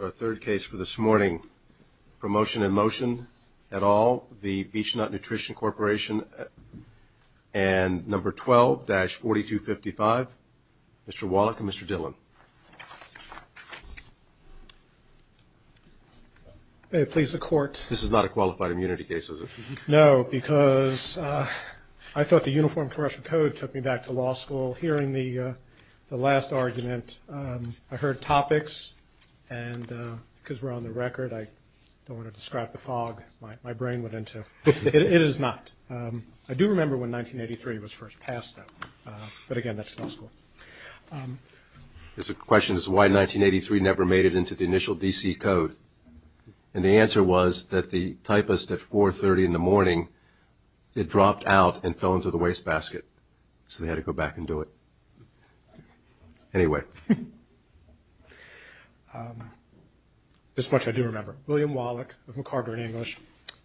Our third case for this morning, Promotion In Motion at all, the Beech-Nut Nutrition Corporation and number 12-4255, Mr. Wallach and Mr. Dillon. May it please the court. This is not a qualified immunity case, is it? No, because I thought the Uniform Commercial Code took me back to law school. While hearing the last argument, I heard topics, and because we're on the record, I don't want to describe the fog my brain went into. It is not. I do remember when 1983 was first passed, though. But again, that's law school. The question is why 1983 never made it into the initial D.C. Code. And the answer was that the typist at 4.30 in the morning, it dropped out and fell into the wastebasket. So they had to go back and do it. Anyway. This much I do remember. William Wallach of MacArthur and English,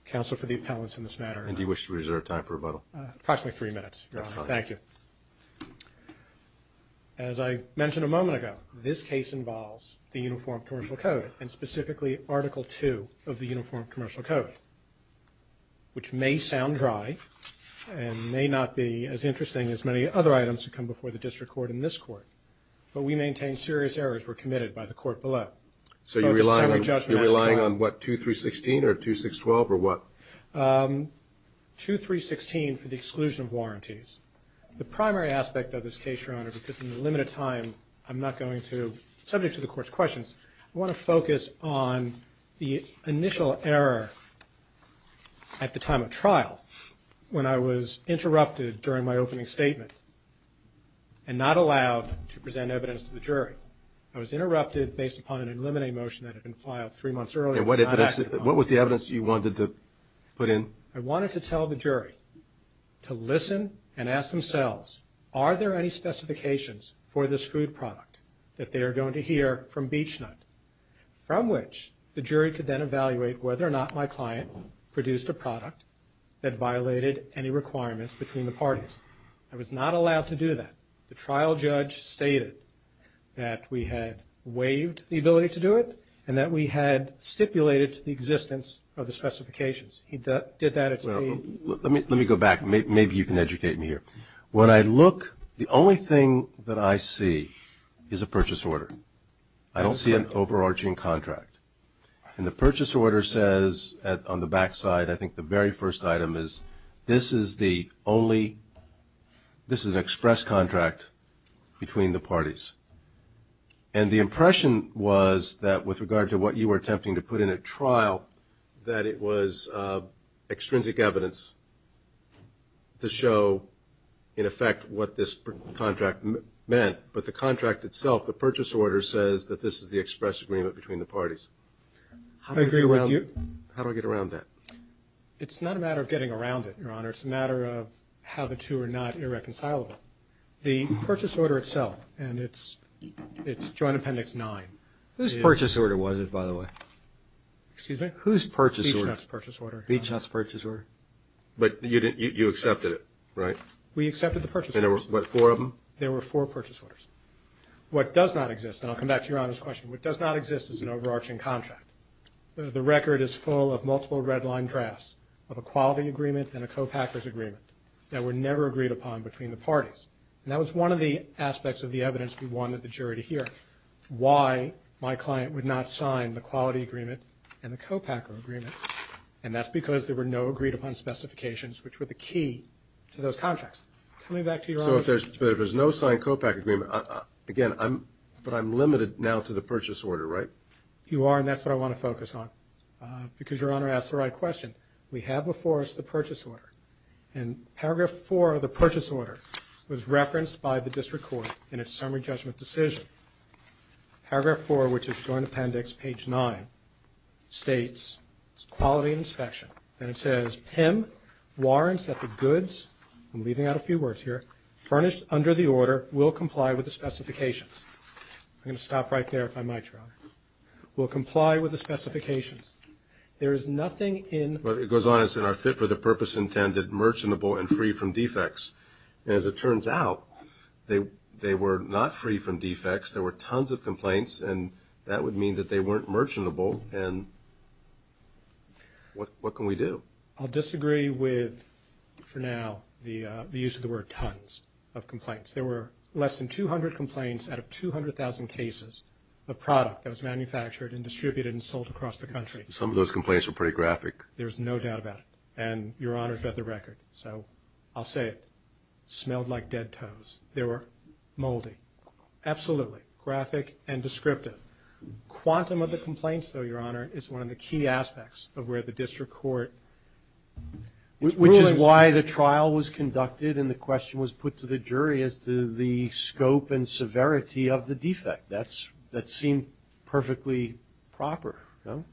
Counsel for the Appellants in this matter. And do you wish to reserve time for rebuttal? Approximately three minutes, Your Honor. That's fine. Thank you. As I mentioned a moment ago, this case involves the Uniform Commercial Code, and specifically Article II of the Uniform Commercial Code, which may sound dry and may not be as interesting as many other items that come before the district court and this court. But we maintain serious errors were committed by the court below. So you're relying on what, 2316 or 2612, or what? 2316 for the exclusion of warranties. The primary aspect of this case, Your Honor, because in the limited time I'm not going to, subject to the court's questions, I want to focus on the initial error at the time of trial when I was interrupted during my opening statement and not allowed to present evidence to the jury. I was interrupted based upon an eliminating motion that had been filed three months earlier. What was the evidence you wanted to put in? I wanted to tell the jury to listen and ask themselves, are there any specifications for this food product that they are going to hear from Beechnut, from which the jury could then evaluate whether or not my client produced a product that violated any requirements between the parties. I was not allowed to do that. The trial judge stated that we had waived the ability to do it and that we had stipulated to the existence of the specifications. He did that. Well, let me go back. Maybe you can educate me here. When I look, the only thing that I see is a purchase order. I don't see an overarching contract. And the purchase order says on the back side, I think the very first item is, this is the only, this is an express contract between the parties. And the impression was that with regard to what you were attempting to put in at trial, that it was extrinsic evidence to show, in effect, what this contract meant. But the contract itself, the purchase order, says that this is the express agreement between the parties. I agree with you. How do I get around that? It's not a matter of getting around it, Your Honor. It's a matter of how the two are not irreconcilable. The purchase order itself, and it's Joint Appendix 9. Whose purchase order was it, by the way? Excuse me? Whose purchase order? Beachnut's purchase order, Your Honor. Beachnut's purchase order? But you accepted it, right? We accepted the purchase order. And there were, what, four of them? There were four purchase orders. What does not exist, and I'll come back to Your Honor's question, what does not exist is an overarching contract. The record is full of multiple red-line drafts of a quality agreement and a co-packers agreement that were never agreed upon between the parties. And that was one of the aspects of the evidence we wanted the jury to hear, why my client would not sign the quality agreement and the co-packer agreement, and that's because there were no agreed-upon specifications, which were the key to those contracts. Come back to Your Honor's question. So if there's no signed co-packer agreement, again, but I'm limited now to the purchase order, right? You are, and that's what I want to focus on, because Your Honor asked the right question. We have before us the purchase order, and Paragraph 4 of the purchase order was referenced by the district court in its summary judgment decision. Paragraph 4, which is Joint Appendix, page 9, states quality inspection, and it says PIM warrants that the goods, I'm leaving out a few words here, furnished under the order will comply with the specifications. I'm going to stop right there, if I might, Your Honor. Will comply with the specifications. There is nothing in Well, it goes on, it says, are fit for the purpose intended, merchantable, and free from defects. And as it turns out, they were not free from defects. There were tons of complaints, and that would mean that they weren't merchantable, and what can we do? I'll disagree with, for now, the use of the word tons of complaints. There were less than 200 complaints out of 200,000 cases of product that was manufactured and distributed and sold across the country. Some of those complaints were pretty graphic. There's no doubt about it, and Your Honor's read the record, so I'll say it. Smelled like dead toes. They were moldy. Absolutely. Graphic and descriptive. Quantum of the complaints, though, Your Honor, is one of the key aspects of where the district court is ruling. Which is why the trial was conducted and the question was put to the jury as to the scope and severity of the defect. That seemed perfectly proper, no?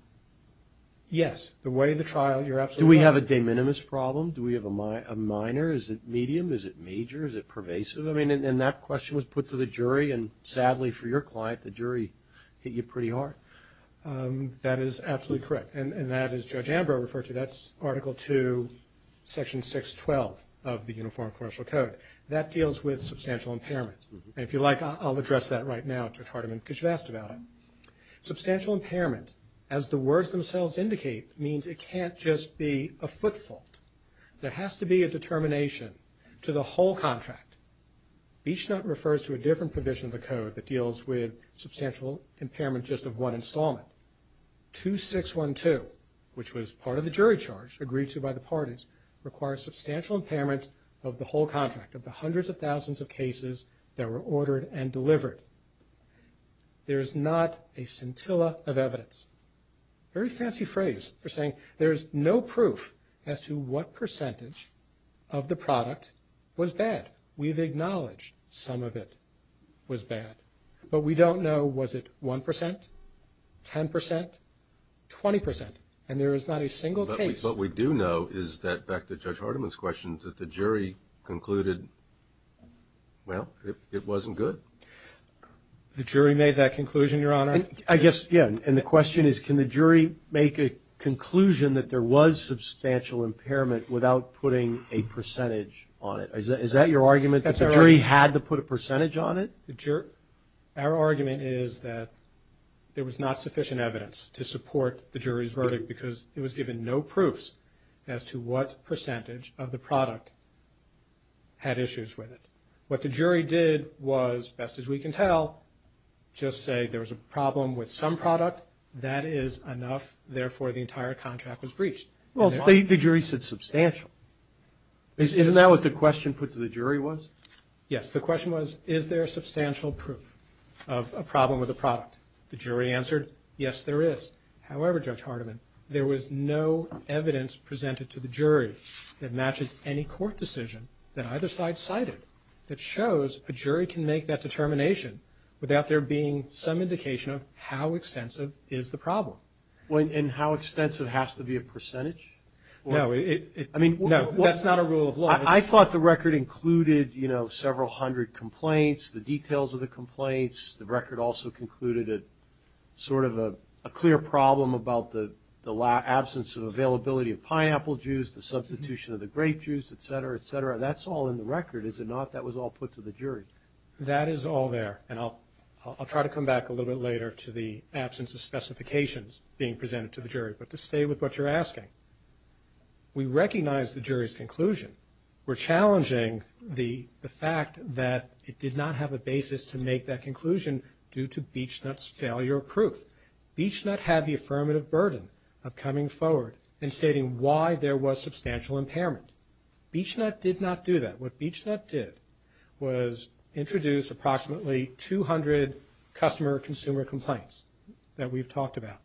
Yes. The way the trial, you're absolutely right. Do we have a de minimis problem? Do we have a minor? Is it medium? Is it major? Is it pervasive? I mean, and that question was put to the jury, and sadly for your client, the jury hit you pretty hard. That is absolutely correct, and that is Judge Ambrose referred to. That's Article 2, Section 612 of the Uniform Commercial Code. That deals with substantial impairment. And if you like, I'll address that right now, Judge Hardiman, because you've asked about it. Substantial impairment, as the words themselves indicate, means it can't just be a foot fault. There has to be a determination to the whole contract. Beachnut refers to a different provision of the code that deals with substantial impairment just of one installment. 2612, which was part of the jury charge, agreed to by the parties, requires substantial impairment of the whole contract, of the hundreds of thousands of cases that were ordered and delivered. There is not a scintilla of evidence. Very fancy phrase for saying there's no proof as to what percentage of the product was bad. We've acknowledged some of it was bad, but we don't know was it 1%, 10%, 20%, and there is not a single case. But what we do know is that, back to Judge Hardiman's question, that the jury concluded, well, it wasn't good. The jury made that conclusion, Your Honor. I guess, yeah, and the question is, can the jury make a conclusion that there was substantial impairment without putting a percentage on it? Is that your argument, that the jury had to put a percentage on it? Our argument is that there was not sufficient evidence to support the jury's verdict because it was given no proofs as to what percentage of the product had issues with it. What the jury did was, best as we can tell, just say there was a problem with some product. That is enough. Therefore, the entire contract was breached. Well, the jury said substantial. Isn't that what the question put to the jury was? Yes. The question was, is there substantial proof of a problem with the product? The jury answered, yes, there is. However, Judge Hardiman, there was no evidence presented to the jury that matches any court decision that either side cited that shows a jury can make that determination without there being some indication of how extensive is the problem. And how extensive has to be a percentage? No, that's not a rule of law. I thought the record included, you know, several hundred complaints, the details of the complaints. The record also concluded sort of a clear problem about the absence of availability of pineapple juice, the substitution of the grape juice, et cetera, et cetera. That's all in the record, is it not, that was all put to the jury? That is all there. And I'll try to come back a little bit later to the absence of specifications being presented to the jury. But to stay with what you're asking, we recognize the jury's conclusion. We're challenging the fact that it did not have a basis to make that conclusion due to Beachnut's failure of proof. Beachnut had the affirmative burden of coming forward and stating why there was substantial impairment. Beachnut did not do that. What Beachnut did was introduce approximately 200 customer-consumer complaints that we've talked about.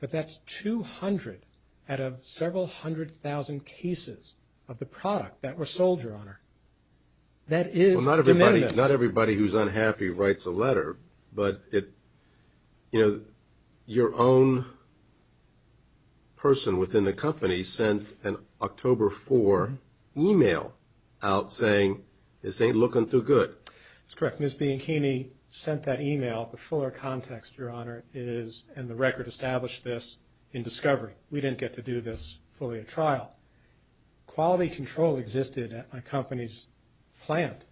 But that's 200 out of several hundred thousand cases of the product that were sold, Your Honor. That is de minimis. Well, not everybody who's unhappy writes a letter. But, you know, your own person within the company sent an October 4 email out saying, this ain't looking too good. That's correct. Ms. Bianchini sent that email. The fuller context, Your Honor, is, and the record established this in discovery. We didn't get to do this fully at trial. Quality control existed at my company's plant,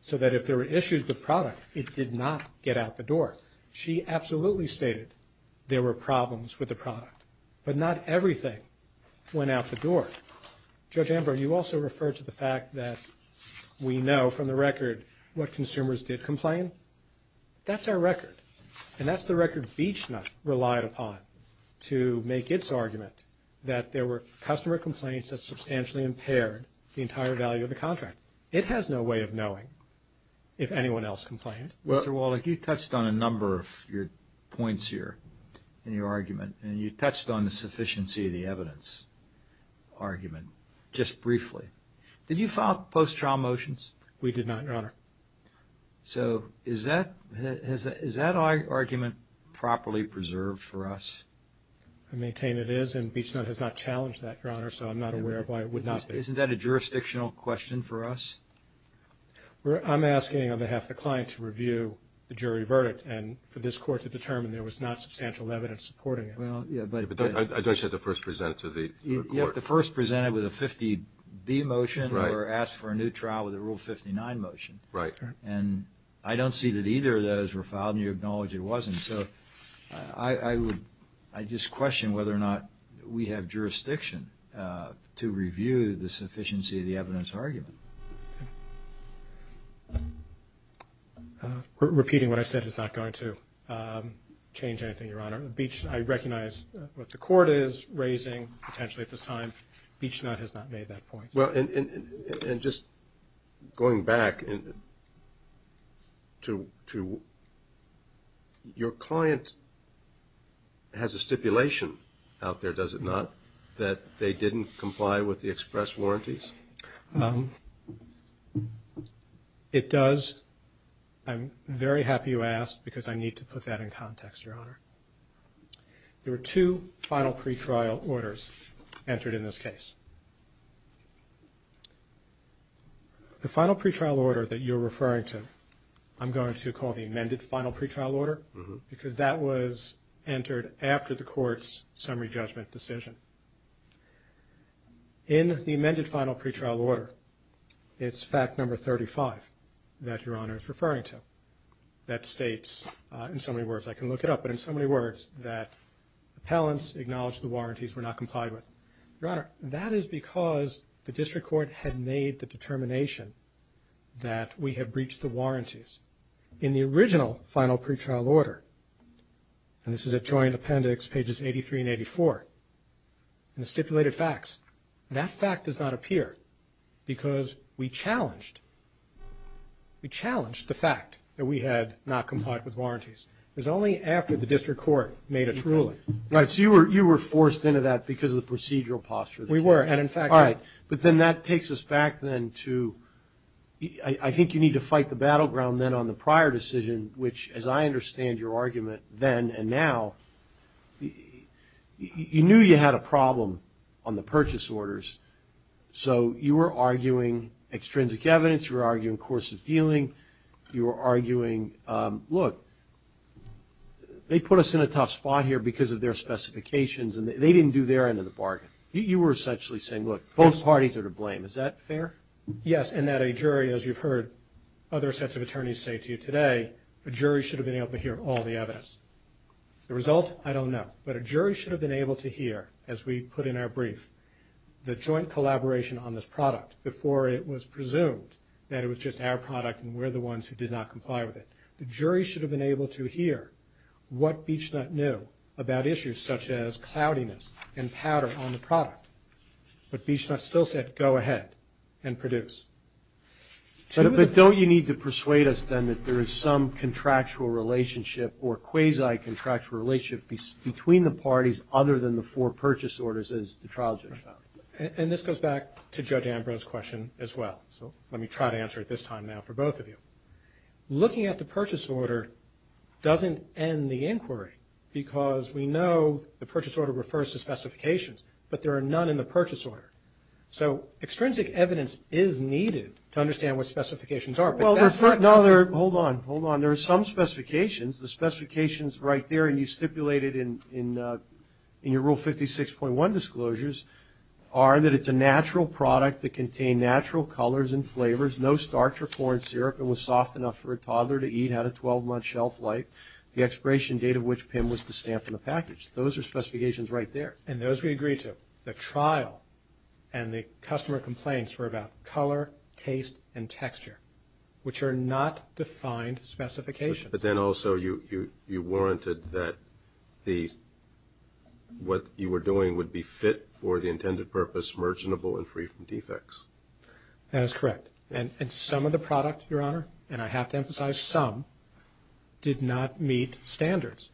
so that if there were issues with product, it did not get out the door. She absolutely stated there were problems with the product. But not everything went out the door. Judge Amber, you also referred to the fact that we know from the record what consumers did complain. That's our record. And that's the record Beachnut relied upon to make its argument that there were customer complaints that substantially impaired the entire value of the contract. It has no way of knowing if anyone else complained. Mr. Wallach, you touched on a number of your points here in your argument, and you touched on the sufficiency of the evidence argument just briefly. Did you file post-trial motions? We did not, Your Honor. So is that argument properly preserved for us? I maintain it is, and Beachnut has not challenged that, Your Honor, so I'm not aware of why it would not be. Isn't that a jurisdictional question for us? I'm asking on behalf of the client to review the jury verdict and for this court to determine there was not substantial evidence supporting it. I don't have to first present it to the court. You have to first present it with a 50-B motion or ask for a new trial with a Rule 59 motion. Right. And I don't see that either of those were filed, and you acknowledge it wasn't. So I just question whether or not we have jurisdiction to review the sufficiency of the evidence argument. Repeating what I said is not going to change anything, Your Honor. I recognize what the court is raising potentially at this time. Beachnut has not made that point. Well, and just going back to your client has a stipulation out there, does it not, that they didn't comply with the express warranties? It does. I'm very happy you asked because I need to put that in context, Your Honor. There were two final pretrial orders entered in this case. The final pretrial order that you're referring to, I'm going to call the amended final pretrial order because that was entered after the court's summary judgment decision. In the amended final pretrial order, it's fact number 35 that Your Honor is referring to that states in so many words, I can look it up, but in so many words that appellants acknowledge the warranties were not complied with. Your Honor, that is because the district court had made the determination that we had breached the warranties. In the original final pretrial order, and this is at joint appendix pages 83 and 84, in the stipulated facts, that fact does not appear because we challenged, we challenged the fact that we had not complied with warranties. It was only after the district court made its ruling. Right, so you were forced into that because of the procedural posture. We were, and in fact, All right, but then that takes us back then to, I think you need to fight the battleground then on the prior decision, which as I understand your argument then and now, you knew you had a problem on the purchase orders, so you were arguing extrinsic evidence, you were arguing course of dealing, you were arguing, look, they put us in a tough spot here because of their specifications, and they didn't do their end of the bargain. You were essentially saying, look, both parties are to blame. Is that fair? Yes, and that a jury, as you've heard other sets of attorneys say to you today, a jury should have been able to hear all the evidence. The result, I don't know, but a jury should have been able to hear, as we put in our brief, the joint collaboration on this product before it was presumed that it was just our product and we're the ones who did not comply with it. The jury should have been able to hear what Beachnut knew about issues such as cloudiness and powder on the product. But Beachnut still said, go ahead and produce. But don't you need to persuade us then that there is some contractual relationship or quasi-contractual relationship between the parties other than the four purchase orders as the trial judge found? And this goes back to Judge Ambrose's question as well. So let me try to answer it this time now for both of you. Looking at the purchase order doesn't end the inquiry because we know the purchase order refers to specifications, but there are none in the purchase order. So extrinsic evidence is needed to understand what specifications are. Hold on, hold on. There are some specifications. The specifications right there, and you stipulated in your Rule 56.1 disclosures, are that it's a natural product that contained natural colors and flavors, no starch or corn syrup, and was soft enough for a toddler to eat, had a 12-month shelf life. The expiration date of which PIM was to stamp in the package. Those are specifications right there. And those we agree to. The trial and the customer complaints were about color, taste, and texture, which are not defined specifications. But then also you warranted that what you were doing would be fit for the intended purpose, merchantable, and free from defects. That is correct. And some of the product, Your Honor, and I have to emphasize some, did not meet standards.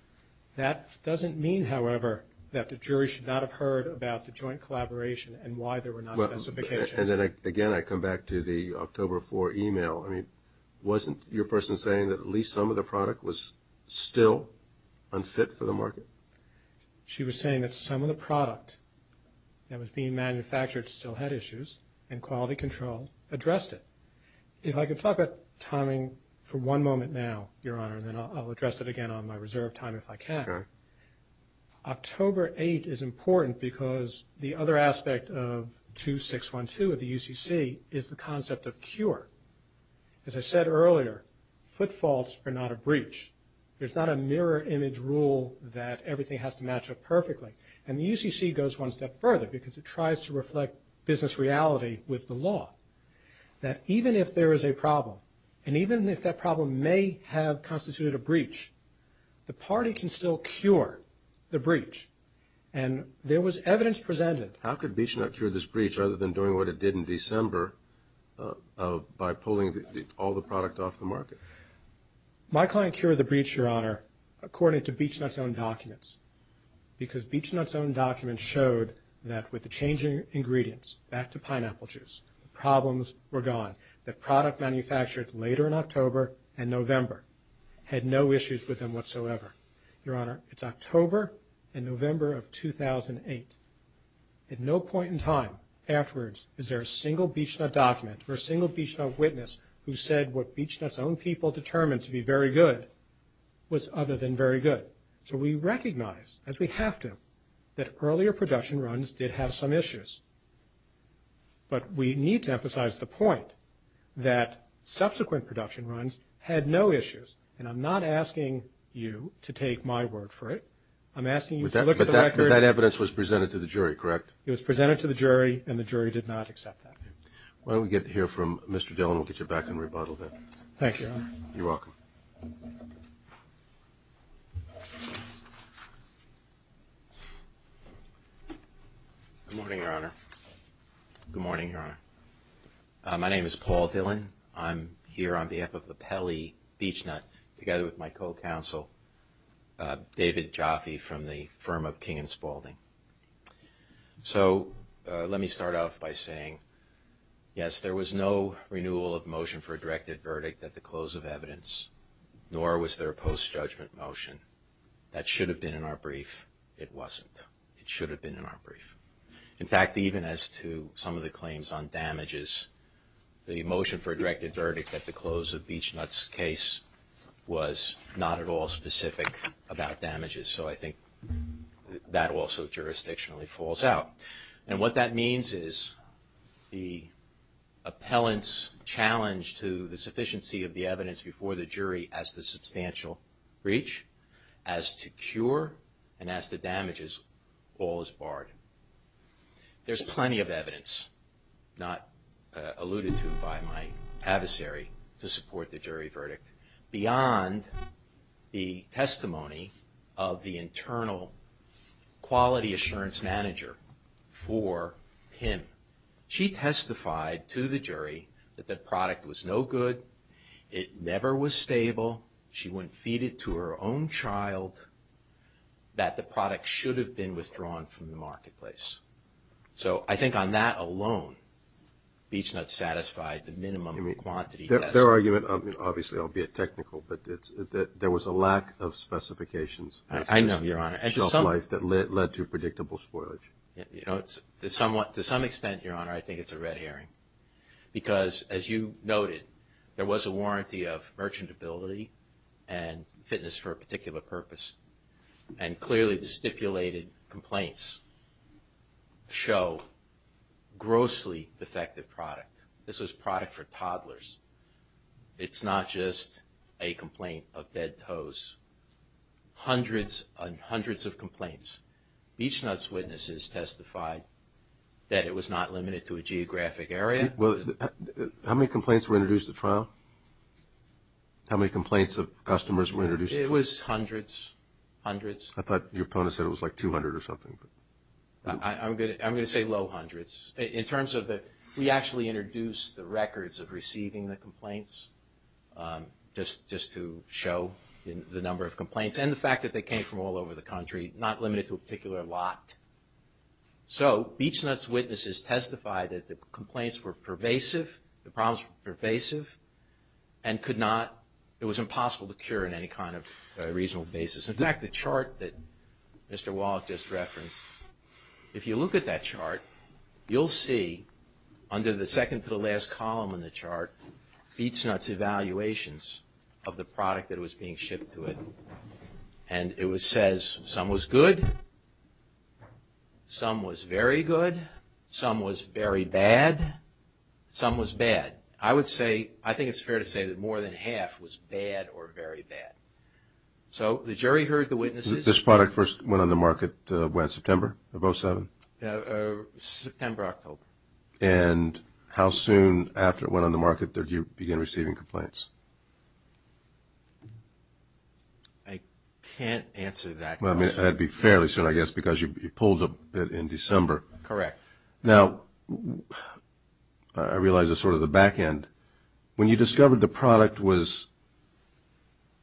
That doesn't mean, however, that the jury should not have heard about the joint collaboration and why there were not specifications. Again, I come back to the October 4 email. Wasn't your person saying that at least some of the product was still unfit for the market? She was saying that some of the product that was being manufactured still had issues and quality control addressed it. If I could talk about timing for one moment now, Your Honor, and then I'll address it again on my reserve time if I can. October 8 is important because the other aspect of 2612 of the UCC is the concept of cure. As I said earlier, foot faults are not a breach. There's not a mirror image rule that everything has to match up perfectly. And the UCC goes one step further because it tries to reflect business reality with the law. That even if there is a problem, and even if that problem may have constituted a breach, the party can still cure the breach. And there was evidence presented. How could BeechNut cure this breach other than doing what it did in December by pulling all the product off the market? My client cured the breach, Your Honor, according to BeechNut's own documents, because BeechNut's own documents showed that with the changing ingredients, back to pineapple juice, problems were gone. The product manufactured later in October and November had no issues with them whatsoever. Your Honor, it's October and November of 2008. At no point in time afterwards is there a single BeechNut document or a single BeechNut witness who said what BeechNut's own people determined to be very good was other than very good. So we recognize, as we have to, that earlier production runs did have some issues. But we need to emphasize the point that subsequent production runs had no issues. And I'm not asking you to take my word for it. I'm asking you to look at the record. But that evidence was presented to the jury, correct? It was presented to the jury, and the jury did not accept that. Why don't we get to hear from Mr. Dillon. We'll get you back in rebuttal then. Thank you, Your Honor. You're welcome. Good morning, Your Honor. Good morning, Your Honor. My name is Paul Dillon. I'm here on behalf of the Pele BeechNut together with my co-counsel, David Jaffe, from the firm of King & Spaulding. So let me start off by saying, yes, there was no renewal of motion for a directed verdict at the close of evidence, nor was there a post-judgment motion. That should have been in our brief. It wasn't. It should have been in our brief. In fact, even as to some of the claims on damages, the motion for a directed verdict at the close of BeechNut's case was not at all specific about damages. So I think that also jurisdictionally falls out. And what that means is the appellant's challenge to the sufficiency of the evidence before the jury as to substantial breach, as to cure, and as to damages, all is barred. There's plenty of evidence, not alluded to by my adversary, to support the jury verdict. Beyond the testimony of the internal quality assurance manager for him, she testified to the jury that the product was no good, it never was stable, she wouldn't feed it to her own child, that the product should have been withdrawn from the marketplace. So I think on that alone, BeechNut satisfied the minimum quantity test. Their argument, obviously, albeit technical, but there was a lack of specifications. I know, Your Honor. That led to predictable spoilage. To some extent, Your Honor, I think it's a red herring. Because as you noted, there was a warranty of merchantability and fitness for a particular purpose. And clearly the stipulated complaints show grossly defective product. This was product for toddlers. It's not just a complaint of dead toes. Hundreds and hundreds of complaints. BeechNut's witnesses testified that it was not limited to a geographic area. How many complaints were introduced at trial? How many complaints of customers were introduced? It was hundreds, hundreds. I thought your opponent said it was like 200 or something. I'm going to say low hundreds. We actually introduced the records of receiving the complaints just to show the number of complaints and the fact that they came from all over the country, not limited to a particular lot. So BeechNut's witnesses testified that the complaints were pervasive, the problems were pervasive, and it was impossible to cure on any kind of reasonable basis. In fact, the chart that Mr. Wallach just referenced, if you look at that chart, you'll see under the second to the last column in the chart, BeechNut's evaluations of the product that was being shipped to it. And it says some was good, some was very good, some was very bad, some was bad. I would say, I think it's fair to say that more than half was bad or very bad. So the jury heard the witnesses. This product first went on the market when, September of 07? September, October. And how soon after it went on the market did you begin receiving complaints? I can't answer that question. That would be fairly soon, I guess, because you pulled it in December. Correct. Now, I realize this is sort of the back end. When you discovered the product was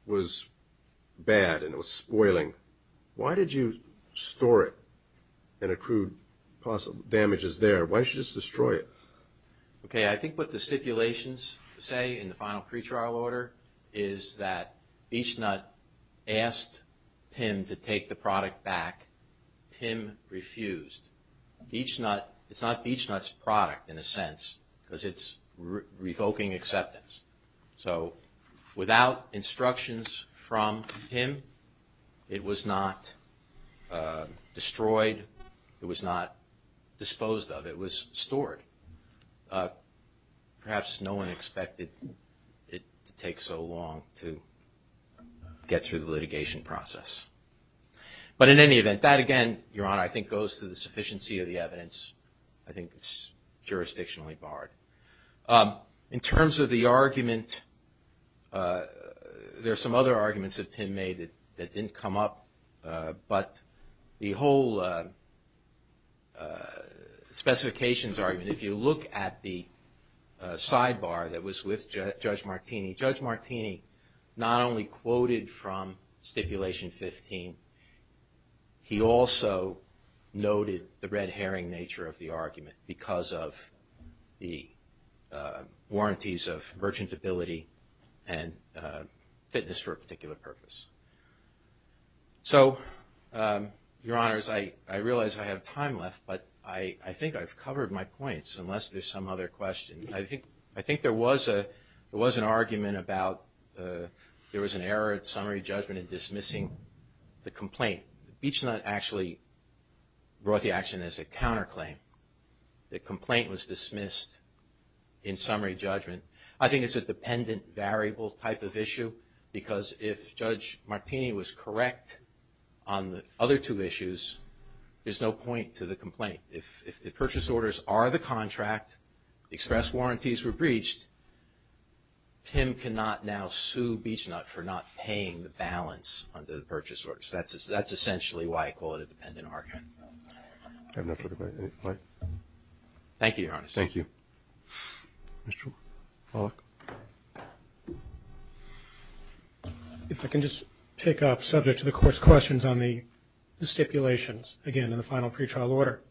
bad and it was spoiling, why did you store it and accrue possible damages there? Why didn't you just destroy it? Okay, I think what the stipulations say in the final pretrial order is that BeechNut asked PIM to take the product back. PIM refused. It's not BeechNut's product, in a sense, because it's revoking acceptance. So without instructions from PIM, it was not destroyed. It was not disposed of. It was stored. Perhaps no one expected it to take so long to get through the litigation process. But in any event, that, again, Your Honor, I think goes to the sufficiency of the evidence. I think it's jurisdictionally barred. In terms of the argument, there are some other arguments that PIM made that didn't come up, but the whole specifications argument, if you look at the sidebar that was with Judge Martini, Judge Martini not only quoted from Stipulation 15, he also noted the red herring nature of the argument because of the warranties of merchantability and fitness for a particular purpose. So, Your Honors, I realize I have time left, but I think I've covered my points, unless there's some other question. I think there was an argument about there was an error at summary judgment in dismissing the complaint. Beachnut actually brought the action as a counterclaim. The complaint was dismissed in summary judgment. I think it's a dependent variable type of issue because if Judge Martini was correct on the other two issues, there's no point to the complaint. If the purchase orders are the contract, express warranties were breached, PIM cannot now sue Beachnut for not paying the balance under the purchase orders. That's essentially why I call it a dependent argument. I have no further questions. Thank you, Your Honors. Thank you. Mr. Wallach. If I can just pick up, subject to the Court's questions on the stipulations, again, in the final pretrial order.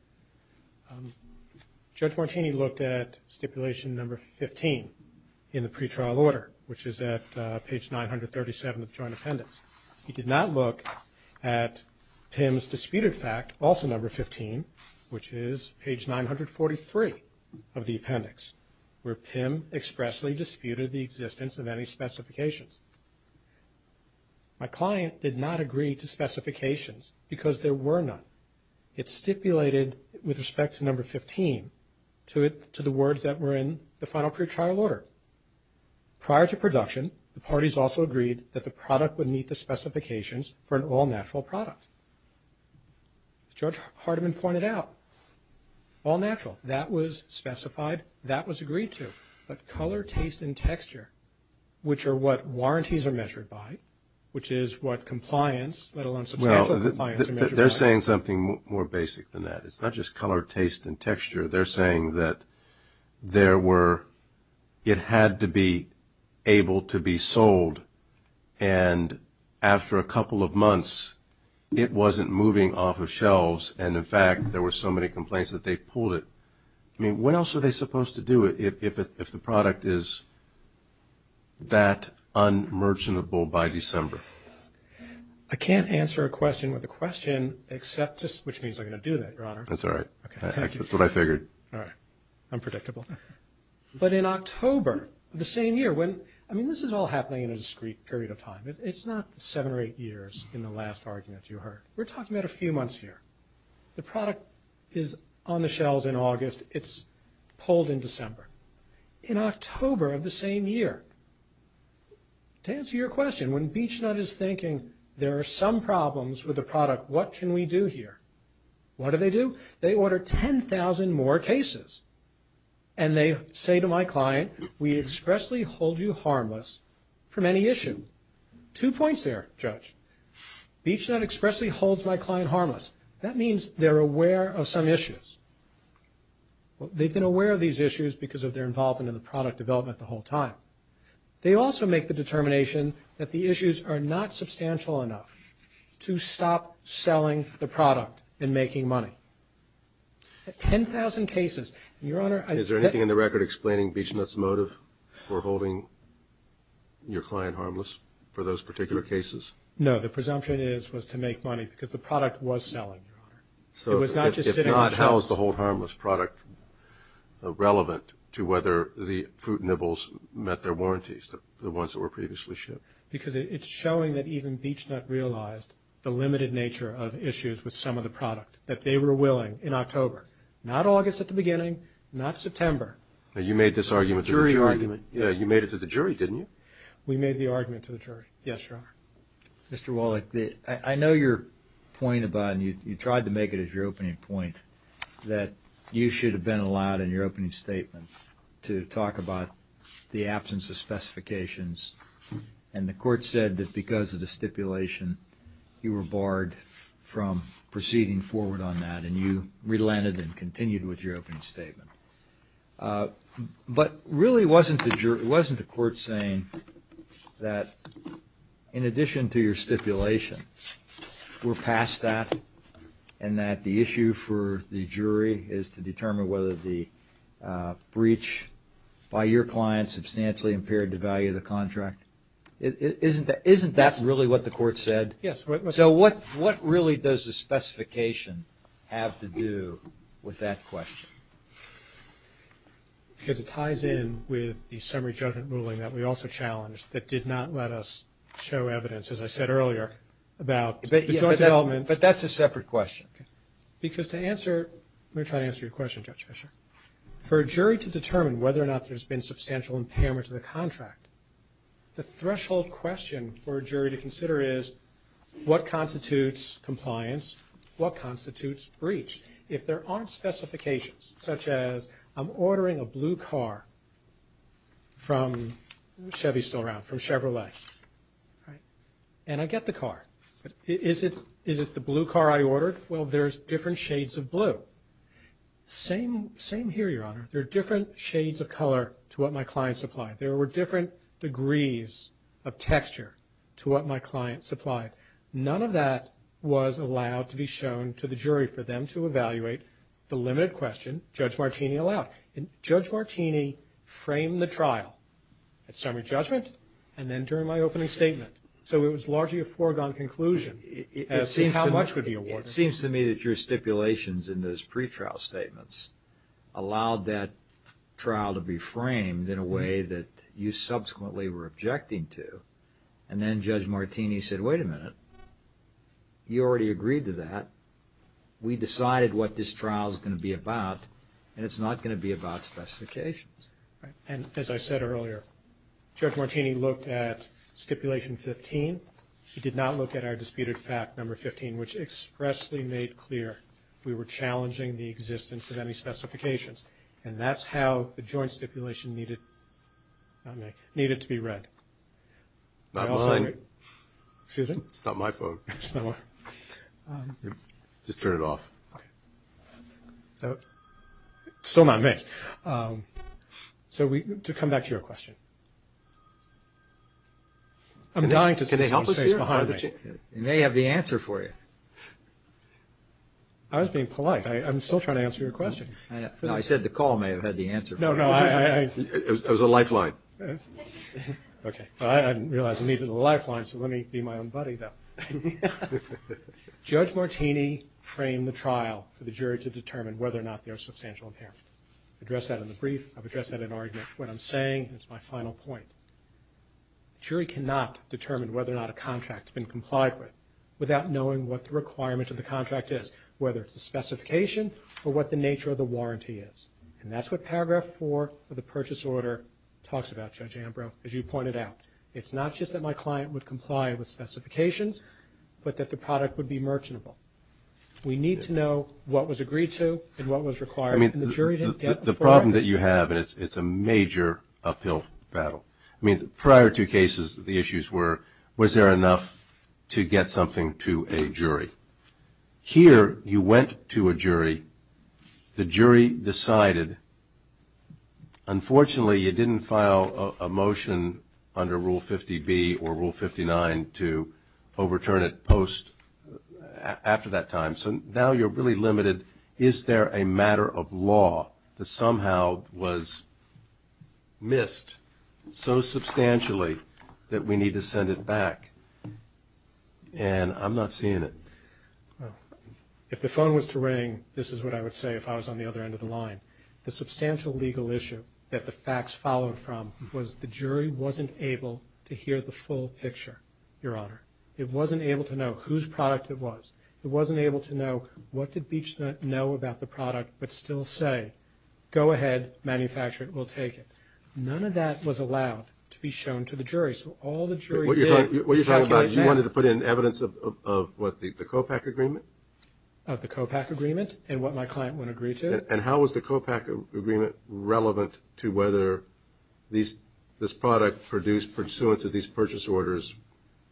Judge Martini looked at stipulation number 15 in the pretrial order, which is at page 937 of the joint appendix. He did not look at PIM's disputed fact, also number 15, which is page 943 of the appendix, where PIM expressly disputed the existence of any specifications. My client did not agree to specifications because there were none. It stipulated, with respect to number 15, to the words that were in the final pretrial order. Prior to production, the parties also agreed that the product would meet the specifications for an all-natural product. As Judge Hardiman pointed out, all-natural, that was specified, that was agreed to. But color, taste, and texture, which are what warranties are measured by, which is what compliance, let alone substantial compliance, are measured by. They're saying something more basic than that. It's not just color, taste, and texture. They're saying that there were – it had to be able to be sold, and after a couple of months, it wasn't moving off of shelves, and, in fact, there were so many complaints that they pulled it. I mean, what else are they supposed to do? If the product is that unmerchantable by December? I can't answer a question with a question except to – which means I'm going to do that, Your Honor. That's all right. That's what I figured. All right. Unpredictable. But in October of the same year, when – I mean, this is all happening in a discrete period of time. It's not seven or eight years in the last argument you heard. We're talking about a few months here. The product is on the shelves in August. It's pulled in December. In October of the same year, to answer your question, when BeechNut is thinking there are some problems with the product, what can we do here? What do they do? They order 10,000 more cases, and they say to my client, we expressly hold you harmless from any issue. Two points there, Judge. BeechNut expressly holds my client harmless. That means they're aware of some issues. They've been aware of these issues because of their involvement in the product development the whole time. They also make the determination that the issues are not substantial enough to stop selling the product and making money. 10,000 cases. Your Honor, I – Is there anything in the record explaining BeechNut's motive for holding your client harmless for those particular cases? No. The presumption is was to make money because the product was selling, Your Honor. It was not just sitting on shelves. If not, how is the hold harmless product relevant to whether the fruit nibbles met their warranties, the ones that were previously shipped? Because it's showing that even BeechNut realized the limited nature of issues with some of the product, that they were willing in October, not August at the beginning, not September. You made this argument to the jury. Jury argument. Yeah, you made it to the jury, didn't you? We made the argument to the jury. Yes, Your Honor. Mr. Wallach, I know your point about – and you tried to make it as your opening point that you should have been allowed in your opening statement to talk about the absence of specifications, and the court said that because of the stipulation, you were barred from proceeding forward on that, and you relented and continued with your opening statement. But really, wasn't the court saying that in addition to your stipulation, we're past that, and that the issue for the jury is to determine whether the breach by your client substantially impaired the value of the contract? Isn't that really what the court said? Yes. So what really does the specification have to do with that question? Because it ties in with the summary judgment ruling that we also challenged that did not let us show evidence, as I said earlier, about the joint elements. But that's a separate question. Because to answer – let me try to answer your question, Judge Fischer. For a jury to determine whether or not there's been substantial impairment to the contract, the threshold question for a jury to consider is, what constitutes compliance? What constitutes breach? If there aren't specifications, such as I'm ordering a blue car from – Chevy's still around – from Chevrolet, and I get the car. Is it the blue car I ordered? Well, there's different shades of blue. Same here, Your Honor. There are different shades of color to what my client supplied. There were different degrees of texture to what my client supplied. None of that was allowed to be shown to the jury for them to evaluate the limited question Judge Martini allowed. And Judge Martini framed the trial at summary judgment and then during my opening statement. So it was largely a foregone conclusion as to how much would be awarded. It seems to me that your stipulations in those pre-trial statements allowed that trial to be framed in a way that you subsequently were objecting to. And then Judge Martini said, wait a minute, you already agreed to that. We decided what this trial is going to be about, and it's not going to be about specifications. And as I said earlier, Judge Martini looked at Stipulation 15. He did not look at our disputed fact, Number 15, which expressly made clear we were challenging the existence of any specifications. And that's how the joint stipulation needed to be read. Not mine. Excuse me? It's not my phone. Just turn it off. Still not me. So to come back to your question. I'm dying to see some space behind me. You may have the answer for you. I was being polite. I'm still trying to answer your question. I said the call may have had the answer for you. No, no. It was a lifeline. Okay. I didn't realize it needed a lifeline, so let me be my own buddy, though. Judge Martini framed the trial for the jury to determine whether or not I addressed that in the brief. I've addressed that in argument. What I'm saying is my final point. A jury cannot determine whether or not a contract has been complied with without knowing what the requirement of the contract is, whether it's a specification or what the nature of the warranty is. And that's what Paragraph 4 of the purchase order talks about, Judge Ambrose, as you pointed out. It's not just that my client would comply with specifications, but that the product would be merchantable. We need to know what was agreed to and what was required. The problem that you have, and it's a major uphill battle. I mean, prior to cases, the issues were, was there enough to get something to a jury? Here, you went to a jury. The jury decided. Unfortunately, you didn't file a motion under Rule 50B or Rule 59 to overturn it post after that time, so now you're really limited. Is there a matter of law that somehow was missed so substantially that we need to send it back? And I'm not seeing it. If the phone was to ring, this is what I would say if I was on the other end of the line. The substantial legal issue that the facts followed from was the jury wasn't able to hear the full picture, Your Honor. It wasn't able to know whose product it was. It wasn't able to know what did Beechner know about the product, but still say, go ahead, manufacture it, we'll take it. None of that was allowed to be shown to the jury, so all the jury did was try to get it back. What you're talking about is you wanted to put in evidence of what, the COPAC agreement? Of the COPAC agreement and what my client would agree to. And how was the COPAC agreement relevant to whether this product produced pursuant to these purchase orders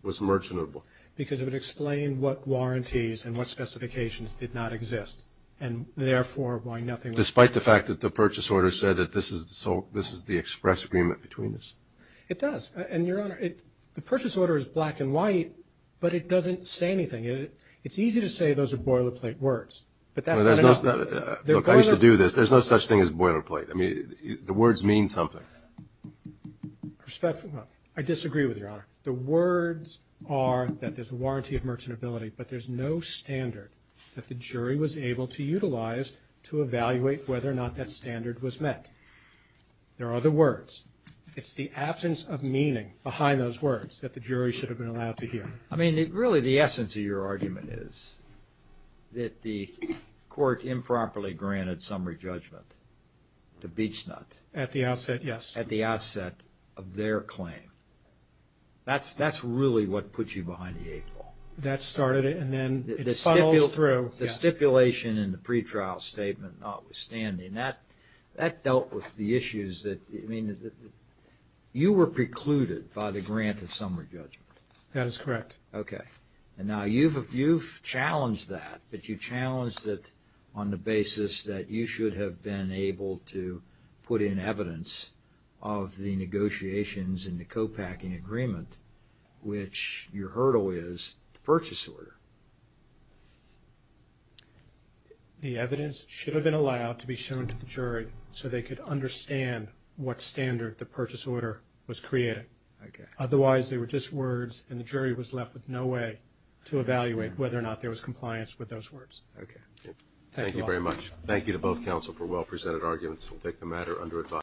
was merchantable? Because it would explain what warranties and what specifications did not exist, and therefore why nothing was. Despite the fact that the purchase order said that this is the express agreement between us? It does. And, Your Honor, the purchase order is black and white, but it doesn't say anything. It's easy to say those are boilerplate words, but that's not enough. Look, I used to do this. There's no such thing as boilerplate. I mean, the words mean something. I disagree with you, Your Honor. The words are that there's a warranty of merchantability, but there's no standard that the jury was able to utilize to evaluate whether or not that standard was met. There are other words. It's the absence of meaning behind those words that the jury should have been allowed to hear. I mean, really the essence of your argument is that the court improperly granted summary judgment to Beachnut. At the outset, yes. At the outset of their claim. That's really what puts you behind the eight ball. That started it, and then it funnels through. The stipulation in the pretrial statement notwithstanding, that dealt with the issues that, I mean, you were precluded by the grant of summary judgment. That is correct. Okay. And now you've challenged that, but you challenged it on the basis that you should have been able to put in evidence of the negotiations and the copacking agreement, which your hurdle is the purchase order. The evidence should have been allowed to be shown to the jury so they could understand what standard the purchase order was creating. Okay. Otherwise, they were just words, and the jury was left with no way to evaluate whether or not there was compliance with those words. Okay. Thank you very much. Thank you to both counsel for well-presented arguments. We'll take the matter under advice.